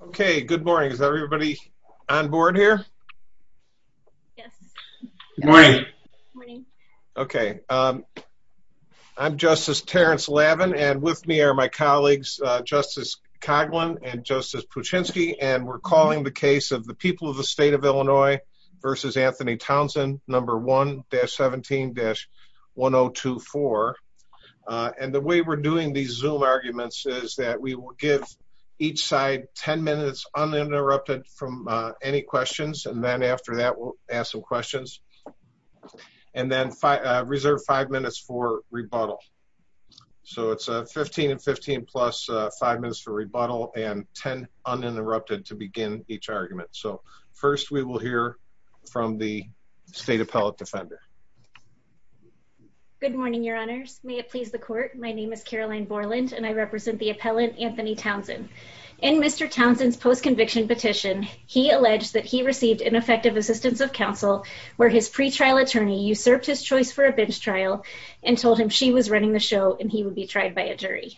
Okay, good morning. Is everybody on board here? Okay I'm Justice Terrence Lavin and with me are my colleagues Justice Coghlan and Justice Puchinsky And we're calling the case of the people of the state of Illinois versus Anthony Townsend number 1-17-1024 And the way we're doing these zoom arguments is that we will give each side 10 minutes uninterrupted from any questions and then after that we'll ask some questions and Then five reserve five minutes for rebuttal So it's a 15 and 15 plus five minutes for rebuttal and 10 uninterrupted to begin each argument So first we will hear from the state appellate defender Good morning, your honors. May it please the court? My name is Caroline Borland and I represent the appellant Anthony Townsend and Mr. Townsend's post-conviction petition He alleged that he received ineffective assistance of counsel where his pretrial attorney usurped his choice for a bench trial and told him She was running the show and he would be tried by a jury.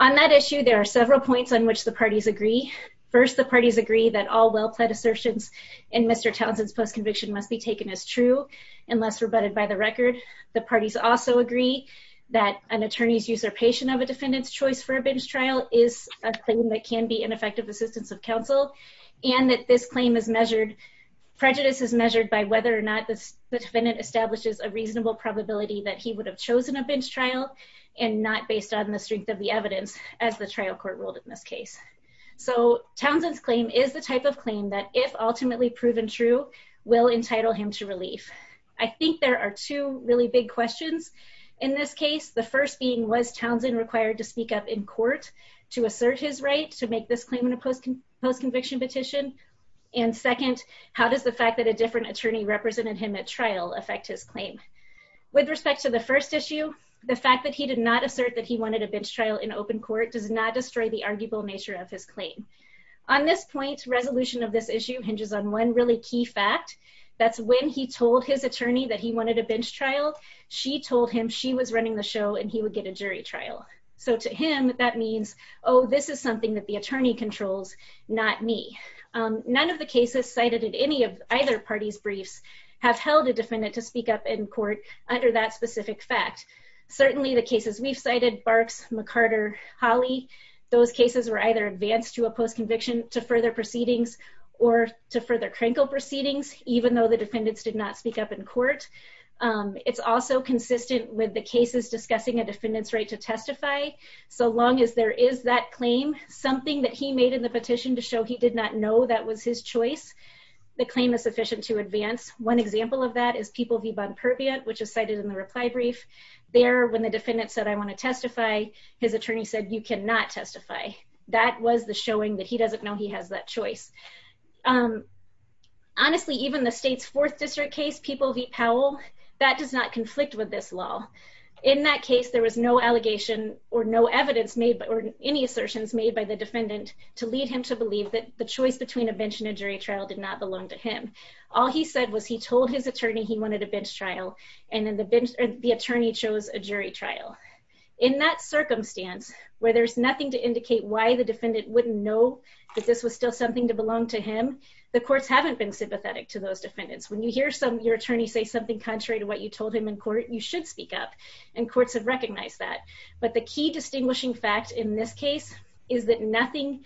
On that issue There are several points on which the parties agree. First, the parties agree that all well-pled assertions in Mr Townsend's post-conviction must be taken as true unless rebutted by the record the parties also agree that An attorney's usurpation of a defendant's choice for a bench trial is a thing that can be ineffective assistance of counsel And that this claim is measured Prejudice is measured by whether or not this defendant establishes a reasonable probability that he would have chosen a bench trial and Not based on the strength of the evidence as the trial court ruled in this case So Townsend's claim is the type of claim that if ultimately proven true will entitle him to relief I think there are two really big questions in this case the first being was Townsend required to speak up in court to assert his right to make this claim in a post-conviction petition and Second, how does the fact that a different attorney represented him at trial affect his claim? With respect to the first issue The fact that he did not assert that he wanted a bench trial in open court does not destroy the arguable nature of his Claim on this point's resolution of this issue hinges on one really key fact That's when he told his attorney that he wanted a bench trial She told him she was running the show and he would get a jury trial So to him that means oh, this is something that the attorney controls not me None of the cases cited in any of either parties briefs have held a defendant to speak up in court under that specific fact Certainly the cases we've cited barks McCarter Holly Those cases were either advanced to a post-conviction to further proceedings or to further crinkle proceedings Even though the defendants did not speak up in court It's also consistent with the cases discussing a defendant's right to testify So long as there is that claim something that he made in the petition to show he did not know that was his choice The claim is sufficient to advance one example of that is people be bond perviant In the reply brief there when the defendant said I want to testify his attorney said you cannot testify That was the showing that he doesn't know he has that choice Honestly even the state's 4th district case people V Powell that does not conflict with this law in that case There was no allegation or no evidence made but or any assertions made by the defendant To lead him to believe that the choice between a bench and a jury trial did not belong to him All he said was he told his attorney he wanted a bench trial and then the bench the attorney chose a jury trial in that Circumstance where there's nothing to indicate why the defendant wouldn't know that this was still something to belong to him The courts haven't been sympathetic to those defendants when you hear some your attorney say something contrary to what you told him in court You should speak up and courts have recognized that but the key distinguishing fact in this case is that nothing?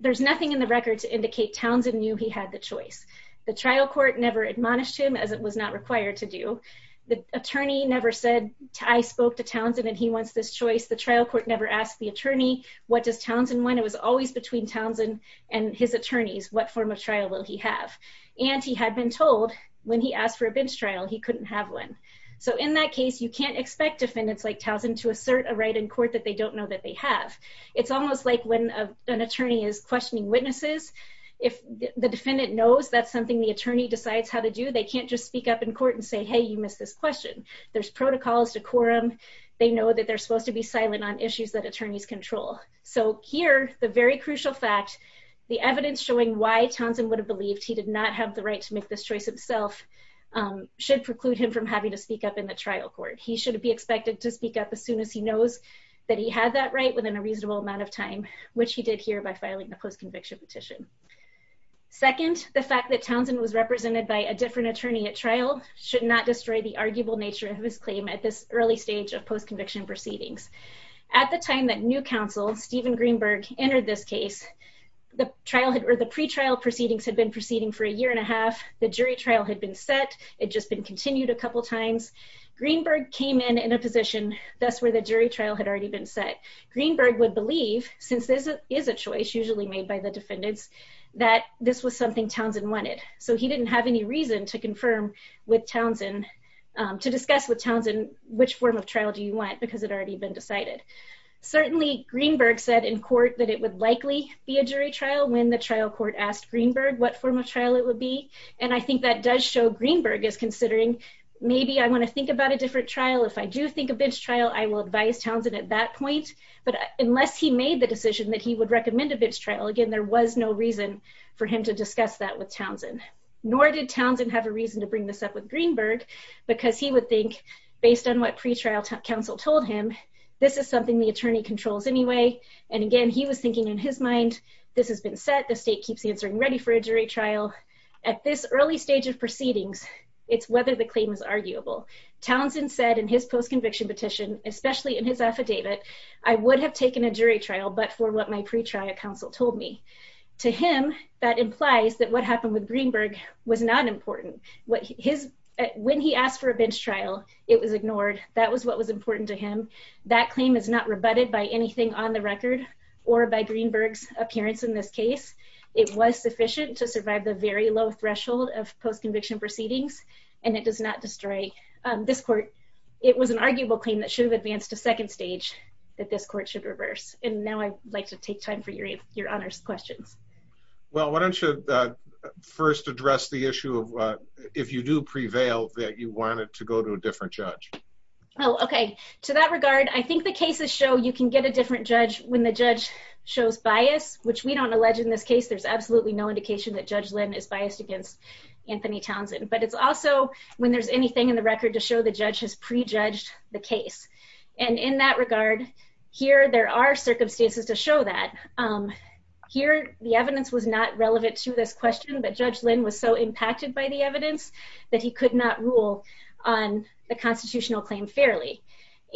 There's nothing in the record to indicate Townsend knew he had the choice The trial court never admonished him as it was not required to do The attorney never said I spoke to Townsend and he wants this choice the trial court never asked the attorney What does Townsend when it was always between Townsend and his attorneys? What form of trial will he have and he had been told when he asked for a bench trial? He couldn't have one So in that case you can't expect defendants like Townsend to assert a right in court that they don't know that they have it's almost like when an attorney is questioning witnesses if The defendant knows that's something the attorney decides how to do. They can't just speak up in court and say hey you missed this question There's protocols to quorum. They know that they're supposed to be silent on issues that attorneys control So here the very crucial fact the evidence showing why Townsend would have believed he did not have the right to make this choice himself Should preclude him from having to speak up in the trial court He should be expected to speak up as soon as he knows that he had that right within a reasonable amount of time Which he did here by filing the post-conviction petition Second the fact that Townsend was represented by a different attorney at trial Should not destroy the arguable nature of his claim at this early stage of post-conviction proceedings At the time that new counsel Stephen Greenberg entered this case The trial had or the pretrial proceedings had been proceeding for a year and a half The jury trial had been set it just been continued a couple times Greenberg came in in a position That's where the jury trial had already been set Greenberg would believe since this is a choice usually made by the defendants that this was something Townsend wanted So he didn't have any reason to confirm with Townsend To discuss with Townsend which form of trial do you want because it already been decided? Certainly Greenberg said in court that it would likely be a jury trial when the trial court asked Greenberg What form of trial it would be and I think that does show Greenberg is considering Maybe I want to think about a different trial if I do think a bench trial I will advise Townsend at that point But unless he made the decision that he would recommend a bench trial again There was no reason for him to discuss that with Townsend Nor did Townsend have a reason to bring this up with Greenberg because he would think based on what pretrial counsel told him This is something the attorney controls anyway, and again, he was thinking in his mind This has been set the state keeps answering ready for a jury trial at this early stage of proceedings It's whether the claim is arguable Townsend said in his post-conviction petition, especially in his affidavit I would have taken a jury trial But for what my pretrial counsel told me to him that implies that what happened with Greenberg was not important What his when he asked for a bench trial it was ignored That was what was important to him that claim is not rebutted by anything on the record or by Greenberg's Threshold of post-conviction proceedings and it does not destroy this court It was an arguable claim that should have advanced a second stage That this court should reverse and now I'd like to take time for your your honors questions Well, why don't you? First address the issue of what if you do prevail that you wanted to go to a different judge Oh, okay to that regard I think the cases show you can get a different judge when the judge shows bias, which we don't allege in this case There's absolutely no indication that judge Lynn is biased against Anthony Townsend But it's also when there's anything in the record to show the judge has prejudged the case and in that regard Here there are circumstances to show that Here the evidence was not relevant to this question But judge Lynn was so impacted by the evidence that he could not rule on The constitutional claim fairly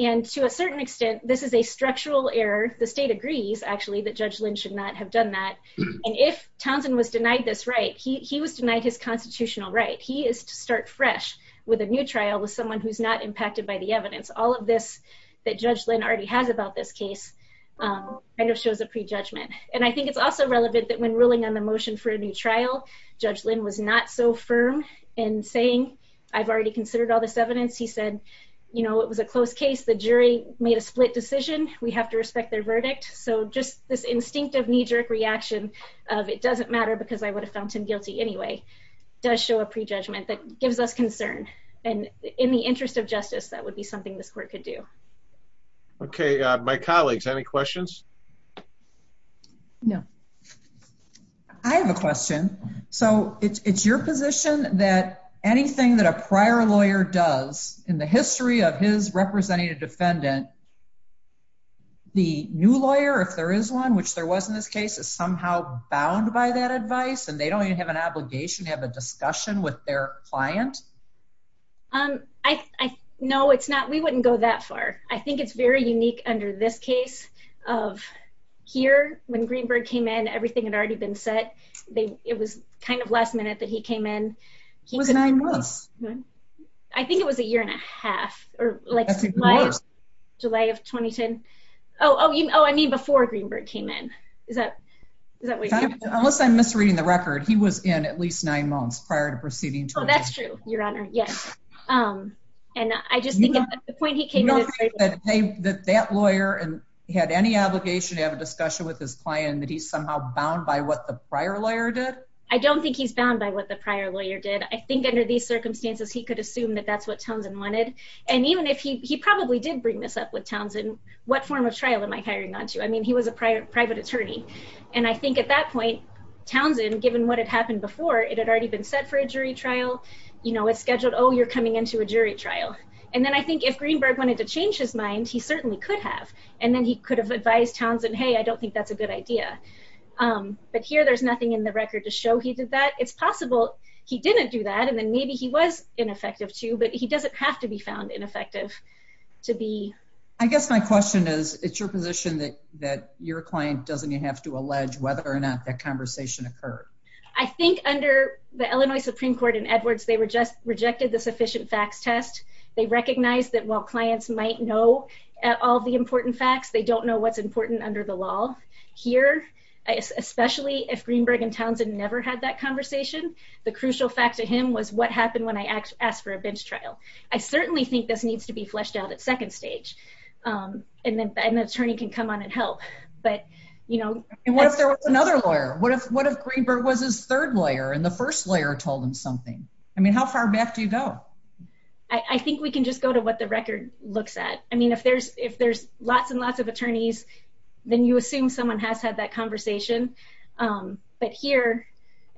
and to a certain extent. This is a structural error The state agrees actually that judge Lynn should not have done that and if Townsend was denied this, right? He was denied his constitutional, right? He is to start fresh with a new trial with someone who's not impacted by the evidence all of this That judge Lynn already has about this case Kind of shows a prejudgment and I think it's also relevant that when ruling on the motion for a new trial Judge Lynn was not so firm and saying I've already considered all this evidence He said, you know, it was a close case the jury made a split decision We have to respect their verdict So just this instinctive knee-jerk reaction of it doesn't matter because I would have found him guilty Anyway does show a prejudgment that gives us concern and in the interest of justice. That would be something this court could do Okay, my colleagues any questions? No, I Have a question So it's your position that anything that a prior lawyer does in the history of his representative defendant The new lawyer if there is one which there was in this case is somehow bound by that advice and they don't even have an Obligation to have a discussion with their client um, I Know it's not we wouldn't go that far. I think it's very unique under this case of Here when Greenberg came in everything had already been set. They it was kind of last-minute that he came in. He was nine months I think it was a year and a half or like Delay of 2010. Oh, oh, you know, I mean before Greenberg came in is that Unless I'm misreading the record. He was in at least nine months prior to proceeding. Oh, that's true. Your honor. Yes and I just That lawyer and he had any obligation to have a discussion with his client that he's somehow bound by what the prior lawyer did I don't think he's bound by what the prior lawyer did I think under these circumstances he could assume that that's what Townsend wanted and even if he probably did bring this up with Townsend What form of trial am I hiring on to I mean he was a private private attorney and I think at that point Townsend given what had happened before it had already been set for a jury trial, you know, it's scheduled Oh, you're coming into a jury trial And then I think if Greenberg wanted to change his mind He certainly could have and then he could have advised Townsend. Hey, I don't think that's a good idea But here there's nothing in the record to show he did that it's possible He didn't do that. And then maybe he was ineffective too, but he doesn't have to be found ineffective To be I guess my question is it's your position that that your client doesn't you have to allege whether or not that conversation occurred? I think under the Illinois Supreme Court in Edwards. They were just rejected the sufficient facts test They recognized that while clients might know all the important facts. They don't know what's important under the law here Especially if Greenberg and Townsend never had that conversation The crucial fact to him was what happened when I asked for a bench trial I certainly think this needs to be fleshed out at second stage And then the attorney can come on and help but you know, and what if there was another lawyer? What if what if Greenberg was his third lawyer and the first layer told him something? I mean, how far back do you go? I think we can just go to what the record looks at Then you assume someone has had that conversation But here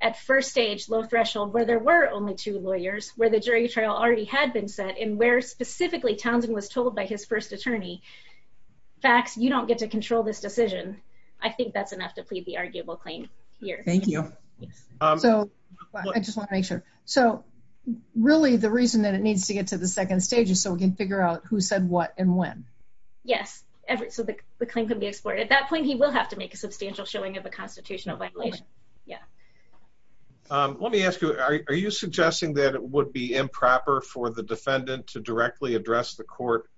at first stage low threshold where there were only two lawyers where the jury trial already had been set in where Specifically Townsend was told by his first attorney Facts you don't get to control this decision. I think that's enough to plead the arguable claim here. Thank you so I just want to make sure so Really the reason that it needs to get to the second stage is so we can figure out who said what and when? Yes, so the claim can be exported at that point he will have to make a substantial showing of a constitutional violation. Yeah Let me ask you. Are you suggesting that it would be improper for the defendant to directly address the court?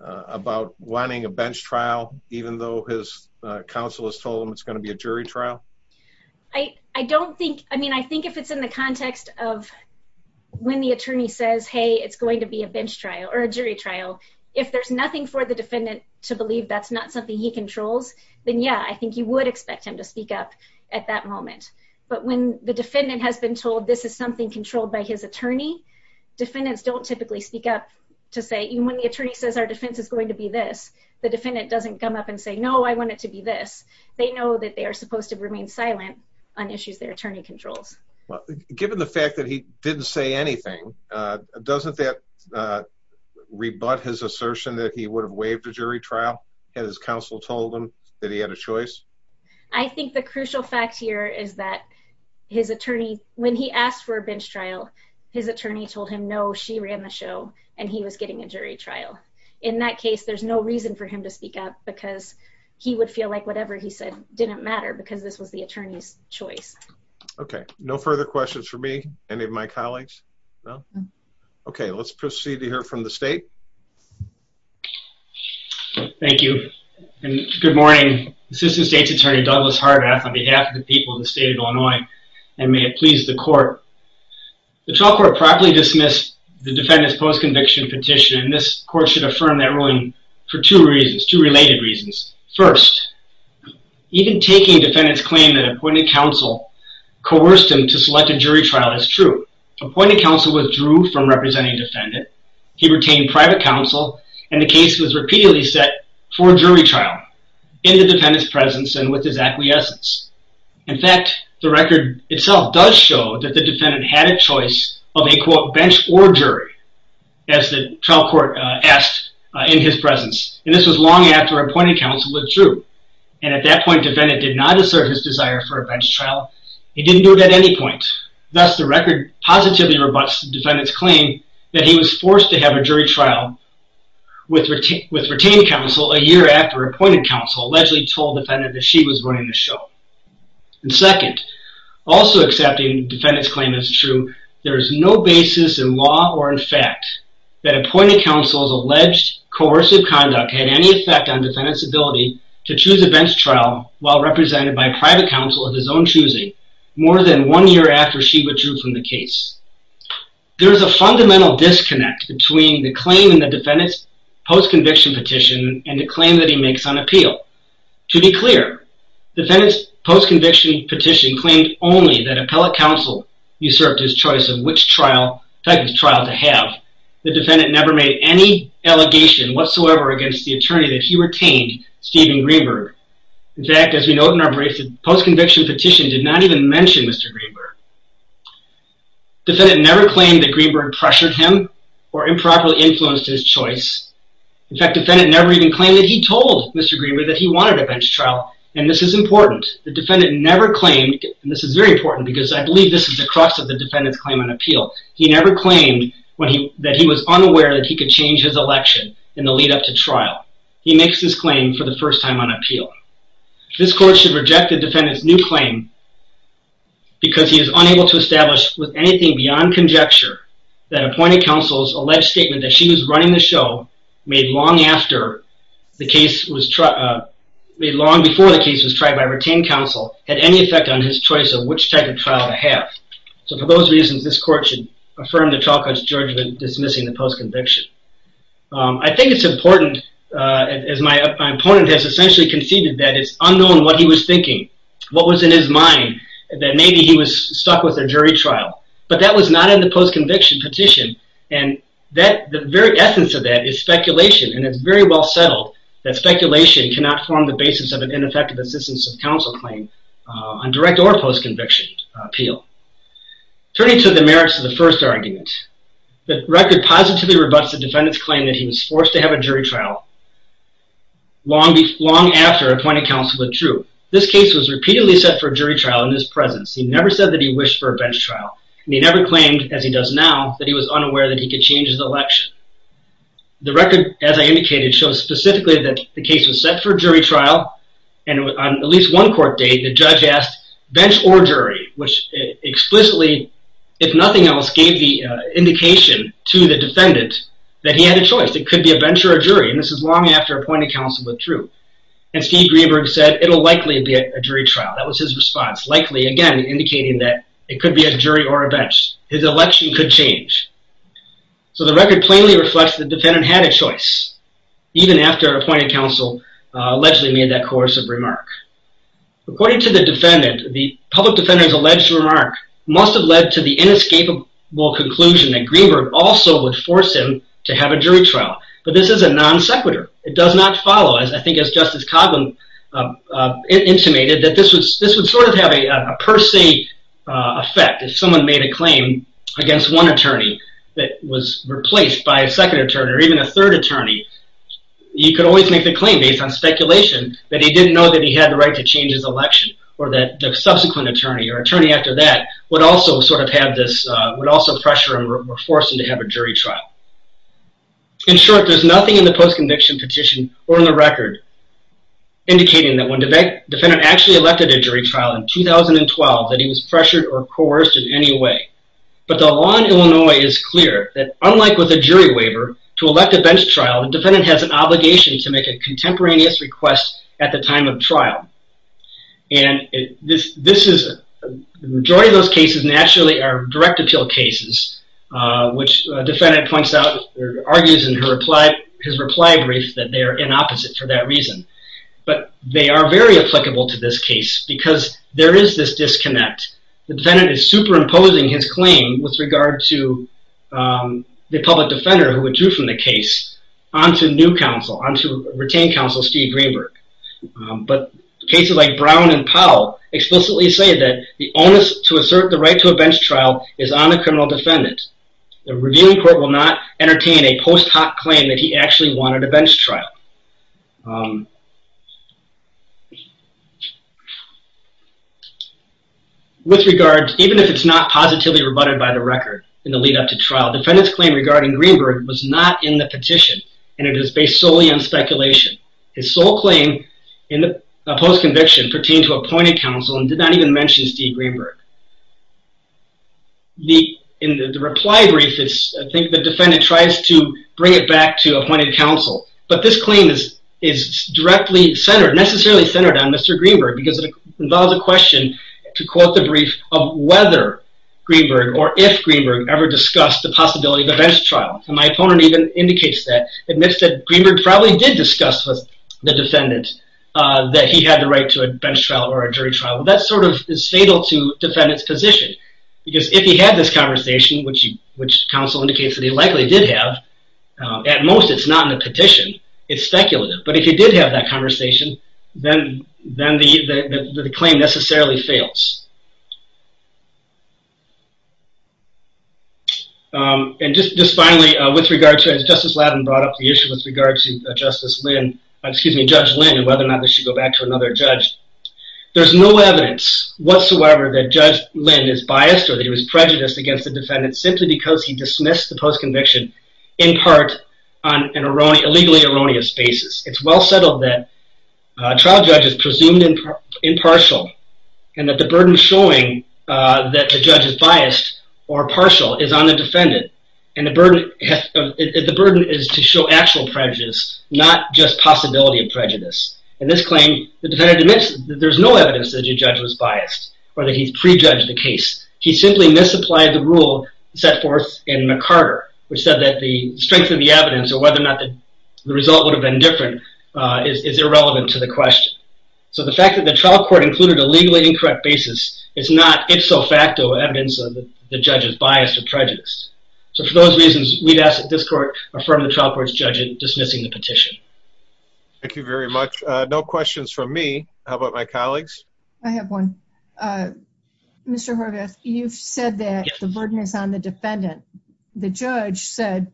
About wanting a bench trial even though his Counsel has told him it's going to be a jury trial. I I don't think I mean, I think if it's in the context of When the attorney says hey It's going to be a bench trial or a jury trial if there's nothing for the defendant to believe that's not something he controls Then yeah, I think you would expect him to speak up at that moment But when the defendant has been told this is something controlled by his attorney Defendants don't typically speak up to say even when the attorney says our defense is going to be this The defendant doesn't come up and say no. I want it to be this They know that they are supposed to remain silent on issues their attorney controls Well given the fact that he didn't say anything doesn't that Rebut his assertion that he would have waived a jury trial and his counsel told him that he had a choice I think the crucial fact here is that His attorney when he asked for a bench trial his attorney told him no She ran the show and he was getting a jury trial in that case There's no reason for him to speak up because he would feel like whatever he said didn't matter because this was the attorney's choice Okay, no further questions for me any of my colleagues no, okay, let's proceed to hear from the state Thank you and good morning Assistant State's Attorney Douglas Harbath on behalf of the people in the state of Illinois and may it please the court The trial court properly dismissed the defendant's post-conviction petition and this court should affirm that ruling for two reasons two related reasons first Even taking defendants claim that appointed counsel Coerced him to select a jury trial as true appointed counsel withdrew from representing defendant He retained private counsel and the case was repeatedly set for a jury trial in the defendant's presence and with his acquiescence in fact the record itself does show that the defendant had a choice of a quote bench or jury as The trial court asked in his presence and this was long after appointed counsel withdrew And at that point defendant did not assert his desire for a bench trial. He didn't do it at any point Thus the record positively robust defendants claim that he was forced to have a jury trial With retained counsel a year after appointed counsel allegedly told defendant that she was running the show and second Also accepting defendants claim as true There is no basis in law or in fact that appointed counsel's alleged Coercive conduct had any effect on defendants ability to choose a bench trial while represented by private counsel of his own choosing More than one year after she withdrew from the case There is a fundamental disconnect between the claim in the defendants post-conviction petition and the claim that he makes on appeal to be clear defendants post-conviction petition claimed only that appellate counsel Usurped his choice of which trial type of trial to have the defendant never made any Allegation whatsoever against the attorney that he retained Steven Greenberg In fact as we note in our briefs post-conviction petition did not even mention. Mr. Greenberg Defendant never claimed that Greenberg pressured him or improperly influenced his choice In fact defendant never even claimed that he told mr. Greenberg that he wanted a bench trial and this is important The defendant never claimed and this is very important because I believe this is the crux of the defendants claim on appeal He never claimed when he that he was unaware that he could change his election in the lead-up to trial He makes this claim for the first time on appeal This court should reject the defendants new claim Because he is unable to establish with anything beyond conjecture that Appointed counsel's alleged statement that she was running the show made long after the case was Made long before the case was tried by retained counsel had any effect on his choice of which type of trial to have So for those reasons this court should affirm the trial court's judgment dismissing the post-conviction I think it's important as my opponent has essentially conceded that it's unknown what he was thinking What was in his mind that maybe he was stuck with a jury trial, but that was not in the post-conviction petition And that the very essence of that is speculation and it's very well settled that Speculation cannot form the basis of an ineffective assistance of counsel claim on direct or post conviction appeal Turning to the merits of the first argument the record positively rebuts the defendants claim that he was forced to have a jury trial Long be long after appointed counsel withdrew this case was repeatedly set for a jury trial in his presence He never said that he wished for a bench trial And he never claimed as he does now that he was unaware that he could change his election the record as I indicated shows specifically that the case was set for jury trial and on at least one court date the judge asked bench or jury which explicitly if nothing else gave the Indication to the defendant that he had a choice It could be a venture or jury and this is long after appointed counsel withdrew and Steve Greenberg said it'll likely be a jury trial That was his response likely again indicating that it could be a jury or a bench. His election could change So the record plainly reflects the defendant had a choice Even after appointed counsel allegedly made that course of remark According to the defendant the public defenders alleged remark must have led to the inescapable Conclusion that Greenberg also would force him to have a jury trial, but this is a non sequitur It does not follow as I think as Justice Coghlan Intimated that this was this would sort of have a per se Effect if someone made a claim against one attorney that was replaced by a second attorney or even a third attorney You could always make the claim based on speculation But he didn't know that he had the right to change his election or that the subsequent attorney or attorney after that Would also sort of have this would also pressure him or force him to have a jury trial In short, there's nothing in the post conviction petition or in the record Indicating that when the defendant actually elected a jury trial in 2012 that he was pressured or coerced in any way But the law in Illinois is clear that unlike with a jury waiver to elect a bench trial the defendant has an obligation to make a contemporaneous request at the time of trial and this is majority of those cases naturally are direct appeal cases Which defendant points out or argues in her reply his reply brief that they are in opposite for that reason but they are very applicable to this case because there is this disconnect the defendant is superimposing his claim with regard to The public defender who withdrew from the case on to new counsel on to retain counsel Steve Greenberg but cases like Brown and Powell Explicitly say that the onus to assert the right to a bench trial is on the criminal defendant The reviewing court will not entertain a post hoc claim that he actually wanted a bench trial With regards even if it's not positively rebutted by the record in the lead-up to trial defendants claim regarding Greenberg was not in the petition And it is based solely on speculation His sole claim in the post conviction pertained to appointed counsel and did not even mention Steve Greenberg The in the reply brief is I think the defendant tries to bring it back to appointed counsel But this claim is is directly centered necessarily centered on Mr. Greenberg because it involves a question to quote the brief of whether Greenberg or if Greenberg ever discussed the possibility of a bench trial and my opponent even indicates that admits that Greenberg probably did discuss the defendant that he had the right to a bench trial or a jury trial that sort of is fatal to defend its position because if he had This conversation which you which counsel indicates that he likely did have At most it's not in the petition. It's speculative But if you did have that conversation, then then the the claim necessarily fails And just just finally with regard to as Justice Lattin brought up the issue with regards to Justice Lynn Excuse me, Judge Lynn and whether or not they should go back to another judge There's no evidence whatsoever that Judge Lynn is biased or that he was prejudiced against the defendant simply because he dismissed the post conviction in part on an erroneous, illegally erroneous basis. It's well settled that trial judges presumed impartial and that the burden showing That the judge is biased or partial is on the defendant and the burden The burden is to show actual prejudice not just possibility of prejudice and this claim the defendant admits There's no evidence that your judge was biased or that he's prejudged the case He simply misapplied the rule set forth in McCarter Which said that the strength of the evidence or whether or not the result would have been different is irrelevant to the question So the fact that the trial court included a legally incorrect basis It's not it's so facto evidence of the judge's bias to prejudice So for those reasons we've asked that this court affirmed the trial court's judge in dismissing the petition Thank you very much. No questions from me. How about my colleagues? I have one Mr. Horvath, you've said that the burden is on the defendant the judge said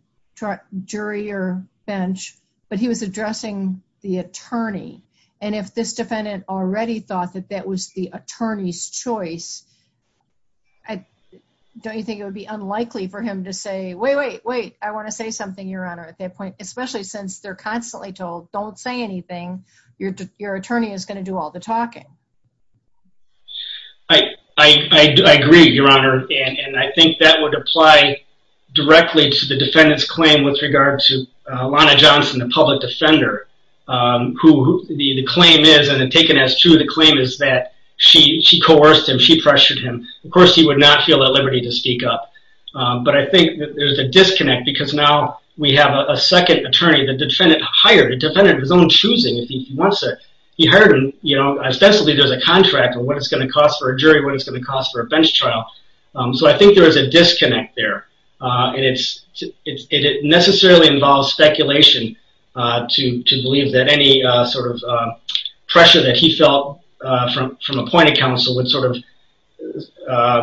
Jury or bench, but he was addressing the attorney and if this defendant already thought that that was the attorney's choice I Don't you think it would be unlikely for him to say wait, wait, wait I want to say something your honor at that point, especially since they're constantly told don't say anything Your attorney is going to do all the talking I Agree, your honor, and I think that would apply Directly to the defendants claim with regard to Lana Johnson the public defender Who the claim is and then taken as true the claim is that she she coerced him. She pressured him Of course, he would not feel at liberty to speak up But I think there's a disconnect because now we have a second attorney the defendant hired a defendant of his own choosing If he wants it he heard him, you know Essentially, there's a contract on what it's going to cost for a jury what it's going to cost for a bench trial So, I think there is a disconnect there and it's it necessarily involves speculation to to believe that any sort of pressure that he felt from from a point of counsel would sort of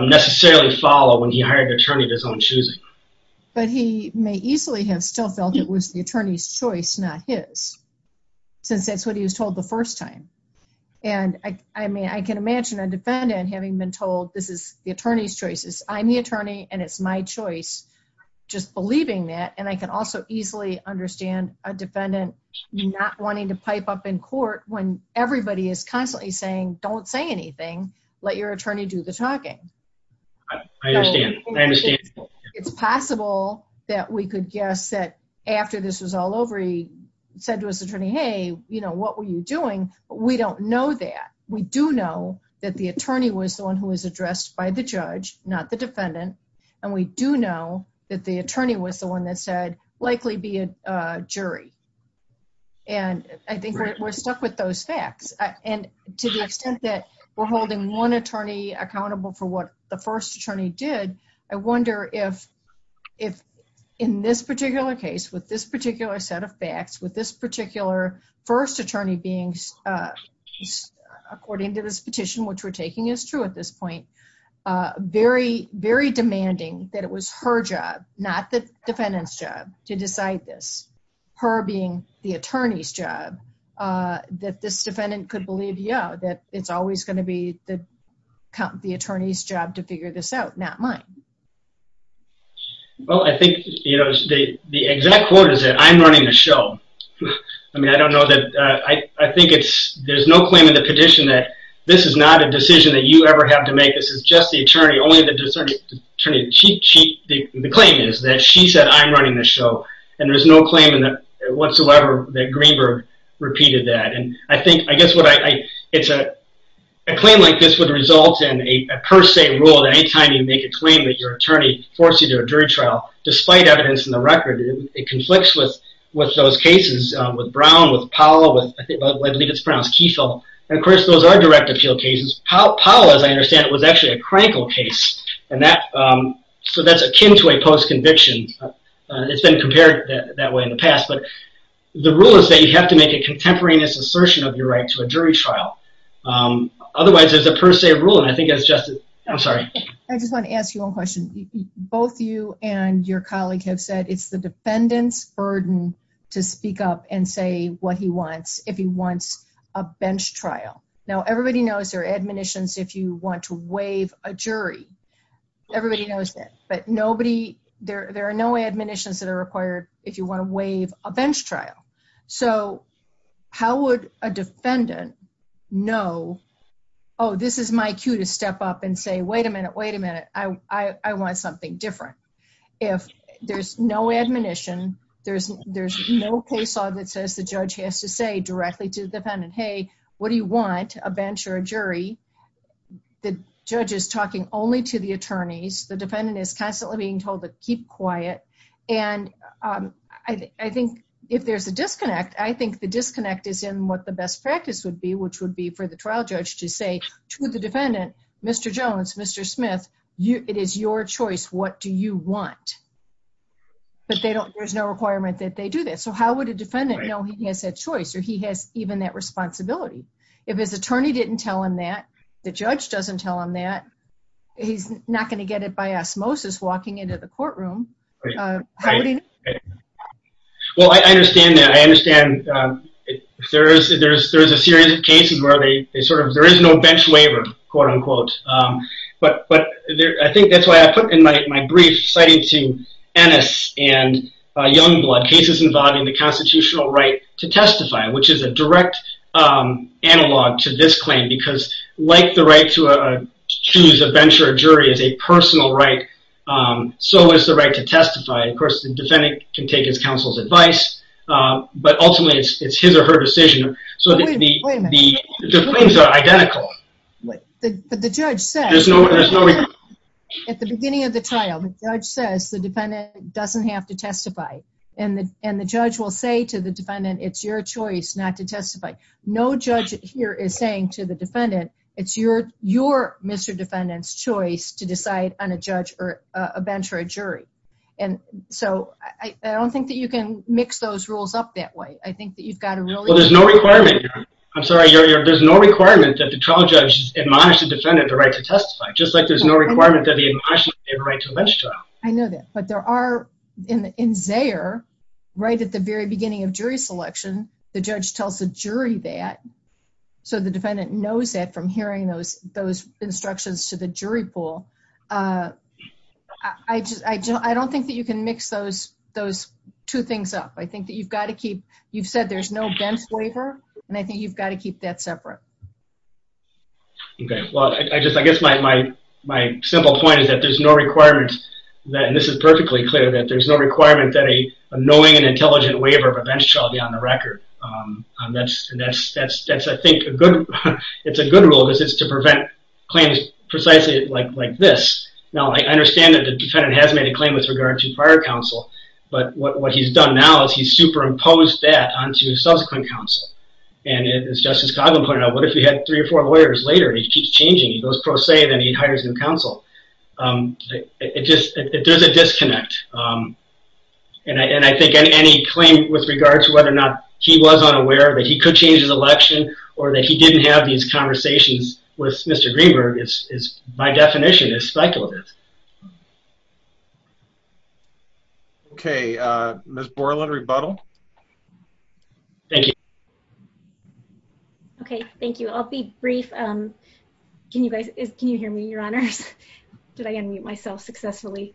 Necessarily follow when he hired attorney of his own choosing But he may easily have still felt it was the attorney's choice. Not his Since that's what he was told the first time and I mean I can imagine a defendant having been told This is the attorney's choices. I'm the attorney and it's my choice Just believing that and I can also easily understand a defendant Not wanting to pipe up in court when everybody is constantly saying don't say anything. Let your attorney do the talking It's possible that we could guess that after this was all over he said to his attorney Hey, you know, what were you doing? We don't know that We do know that the attorney was the one who was addressed by the judge not the defendant and we do know that the attorney was the one that said likely be a jury and I think we're stuck with those facts and to the extent that we're holding one attorney accountable for what the first attorney did I wonder if if In this particular case with this particular set of facts with this particular first attorney being According to this petition, which we're taking is true at this point Very very demanding that it was her job. Not the defendant's job to decide this her being the attorney's job That this defendant could believe. Yeah that it's always going to be the Count the attorney's job to figure this out. Not mine Well, I think you know the exact quote is that I'm running the show I Think it's there's no claim in the petition that this is not a decision that you ever have to make This is just the attorney only the discerning attorney She the claim is that she said I'm running the show and there's no claiming that whatsoever that Greenberg repeated that and I think I guess what I it's a Claim like this would result in a per se rule anytime you make a claim that your attorney Forced you to a jury trial despite evidence in the record it conflicts with with those cases With Brown with Powell with I believe it's pronounced Kieffel. And of course, those are direct appeal cases How Powell as I understand it was actually a crankle case and that so that's akin to a post conviction It's been compared that way in the past But the rule is that you have to make a contemporaneous assertion of your right to a jury trial Otherwise, there's a per se rule and I think it's just I'm sorry I just want to ask you a question both you and your colleague have said it's the defendants burden To speak up and say what he wants if he wants a bench trial now Everybody knows their admonitions if you want to waive a jury Everybody knows that but nobody there. There are no admonitions that are required if you want to waive a bench trial, so How would a defendant know? Oh, this is my cue to step up and say wait a minute. Wait a minute I I want something different if There's no admonition. There's there's no case law that says the judge has to say directly to the defendant Hey, what do you want a bench or a jury? the judge is talking only to the attorneys the defendant is constantly being told to keep quiet and I Think if there's a disconnect I think the disconnect is in what the best practice would be which would be for the trial judge to say to the defendant Mr. Jones, mr. Smith you it is your choice. What do you want? But they don't there's no requirement that they do that So, how would a defendant know he has a choice or he has even that responsibility if his attorney didn't tell him that The judge doesn't tell him that He's not going to get it by osmosis walking into the courtroom Well, I understand that I understand There's there's there's a series of cases where they they sort of there is no bench waiver quote-unquote but but I think that's why I put in my brief citing to Ennis and Youngblood cases involving the constitutional right to testify which is a direct analog to this claim because like the right to a Choose a bench or jury as a personal right So is the right to testify of course the defendant can take his counsel's advice But ultimately it's his or her decision. So the Identical But the judge says no At the beginning of the trial the judge says the defendant doesn't have to testify and the and the judge will say to the defendant It's your choice not to testify. No judge here is saying to the defendant. It's your your mr defendant's choice to decide on a judge or a bench or a jury and So, I don't think that you can mix those rules up that way I think that you've got a really well, there's no requirement I'm sorry You're there's no requirement that the trial judge Admonish the defendant the right to testify just like there's no requirement that the admonition right to let you I know that but there Are in in there? Right at the very beginning of jury selection. The judge tells the jury that So the defendant knows that from hearing those those instructions to the jury pool. I Don't think that you can mix those those two things up I think that you've got to keep you've said there's no bench waiver, and I think you've got to keep that separate Okay, well, I just I guess my my my simple point is that there's no requirement that and this is perfectly clear that there's no Requirement that a knowing and intelligent waiver of a bench shall be on the record That's that's that's that's I think a good it's a good rule. This is to prevent claims precisely like like this now I understand that the defendant has made a claim with regard to prior counsel But what he's done now is he's superimposed that on to subsequent counsel and it is Justice Coghlan pointed out What if we had three or four lawyers later? He keeps changing those pro se then he hires new counsel It just there's a disconnect And I think any claim with regards to whether or not he was unaware that he could change his election or that he didn't have These conversations with mr. Greenberg is by definition is speculative Okay Miss Borland rebuttal Thank you Okay, thank you, I'll be brief Can you guys can you hear me your honors? Did I unmute myself successfully?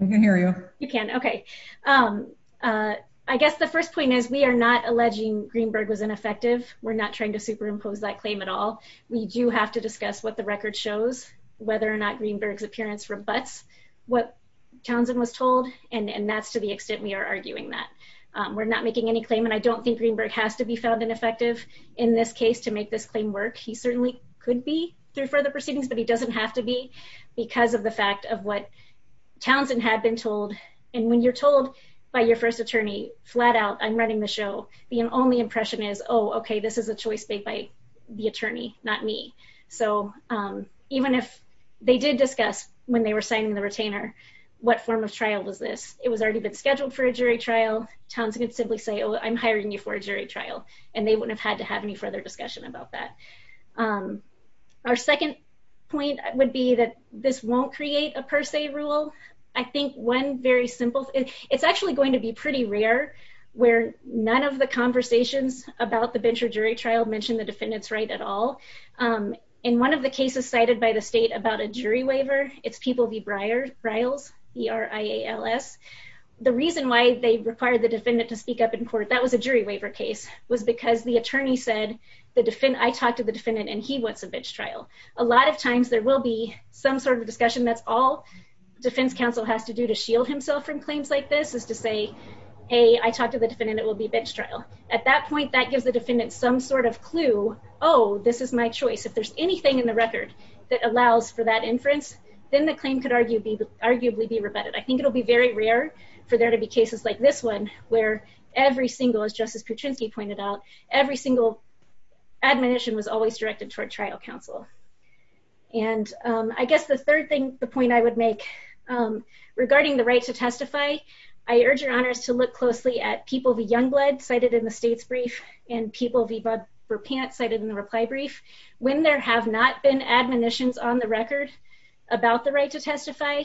You hear you you can okay I guess the first point is we are not alleging Greenberg was ineffective. We're not trying to superimpose that claim at all We do have to discuss what the record shows whether or not Greenberg's appearance rebuts What Townsend was told and and that's to the extent we are arguing that we're not making any claim And I don't think Greenberg has to be found ineffective in this case to make this claim work he certainly could be through further proceedings, but he doesn't have to be because of the fact of what Townsend had been told and when you're told by your first attorney flat-out I'm running the show being only impression is oh, okay. This is a choice made by the attorney not me, so Even if they did discuss when they were signing the retainer What form of trial was this it was already been scheduled for a jury trial Townsend could simply say oh I'm hiring you for a jury trial and they wouldn't have had to have any further discussion about that Our second point would be that this won't create a per se rule I think one very simple it's actually going to be pretty rare Where none of the conversations about the bench or jury trial mentioned the defendants right at all In one of the cases cited by the state about a jury waiver. It's people be briars riles We are IALS the reason why they required the defendant to speak up in court That was a jury waiver case was because the attorney said the defendant I talked to the defendant and he wants a bench trial a lot of times there will be some sort of discussion that's all defense counsel has to do to shield himself from claims like this is to say a Talk to the defendant. It will be a bench trial at that point that gives the defendant some sort of clue Oh, this is my choice If there's anything in the record that allows for that inference then the claim could argue be arguably be rebutted I think it'll be very rare for there to be cases like this one where every single as justice Patrinsky pointed out every single Admonition was always directed toward trial counsel And I guess the third thing the point I would make Regarding the right to testify I urge your honors to look closely at people be young blood cited in the state's brief and people be Budver pant cited in the reply brief when there have not been admonitions on the record about the right to testify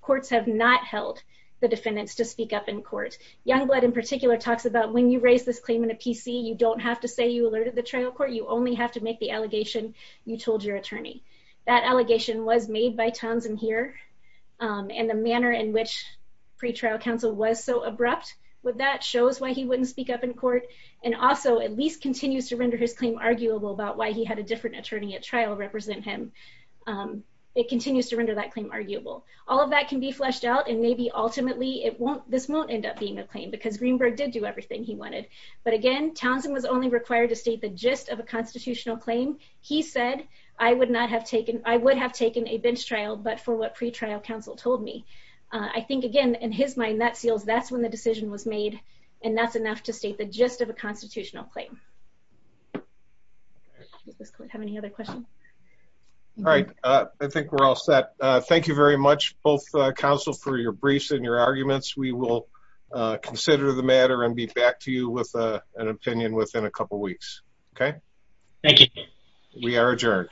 Courts have not held the defendants to speak up in court young blood in particular talks about when you raise this claim in a PC You don't have to say you alerted the trial court. You only have to make the allegation You told your attorney that allegation was made by Townsend here and the manner in which pretrial counsel was so abrupt with that shows why he wouldn't speak up in court and Also at least continues to render his claim arguable about why he had a different attorney at trial represent him It continues to render that claim arguable all of that can be fleshed out and maybe ultimately it won't this won't end up being a claim Because Greenberg did do everything he wanted but again Townsend was only required to state the gist of a constitutional claim He said I would not have taken I would have taken a bench trial But for what pretrial counsel told me I think again in his mind that seals That's when the decision was made and that's enough to state the gist of a constitutional claim All right, I think we're all set thank you very much both counsel for your briefs and your arguments we will Consider the matter and be back to you with an opinion within a couple weeks. Okay. Thank you We are adjourned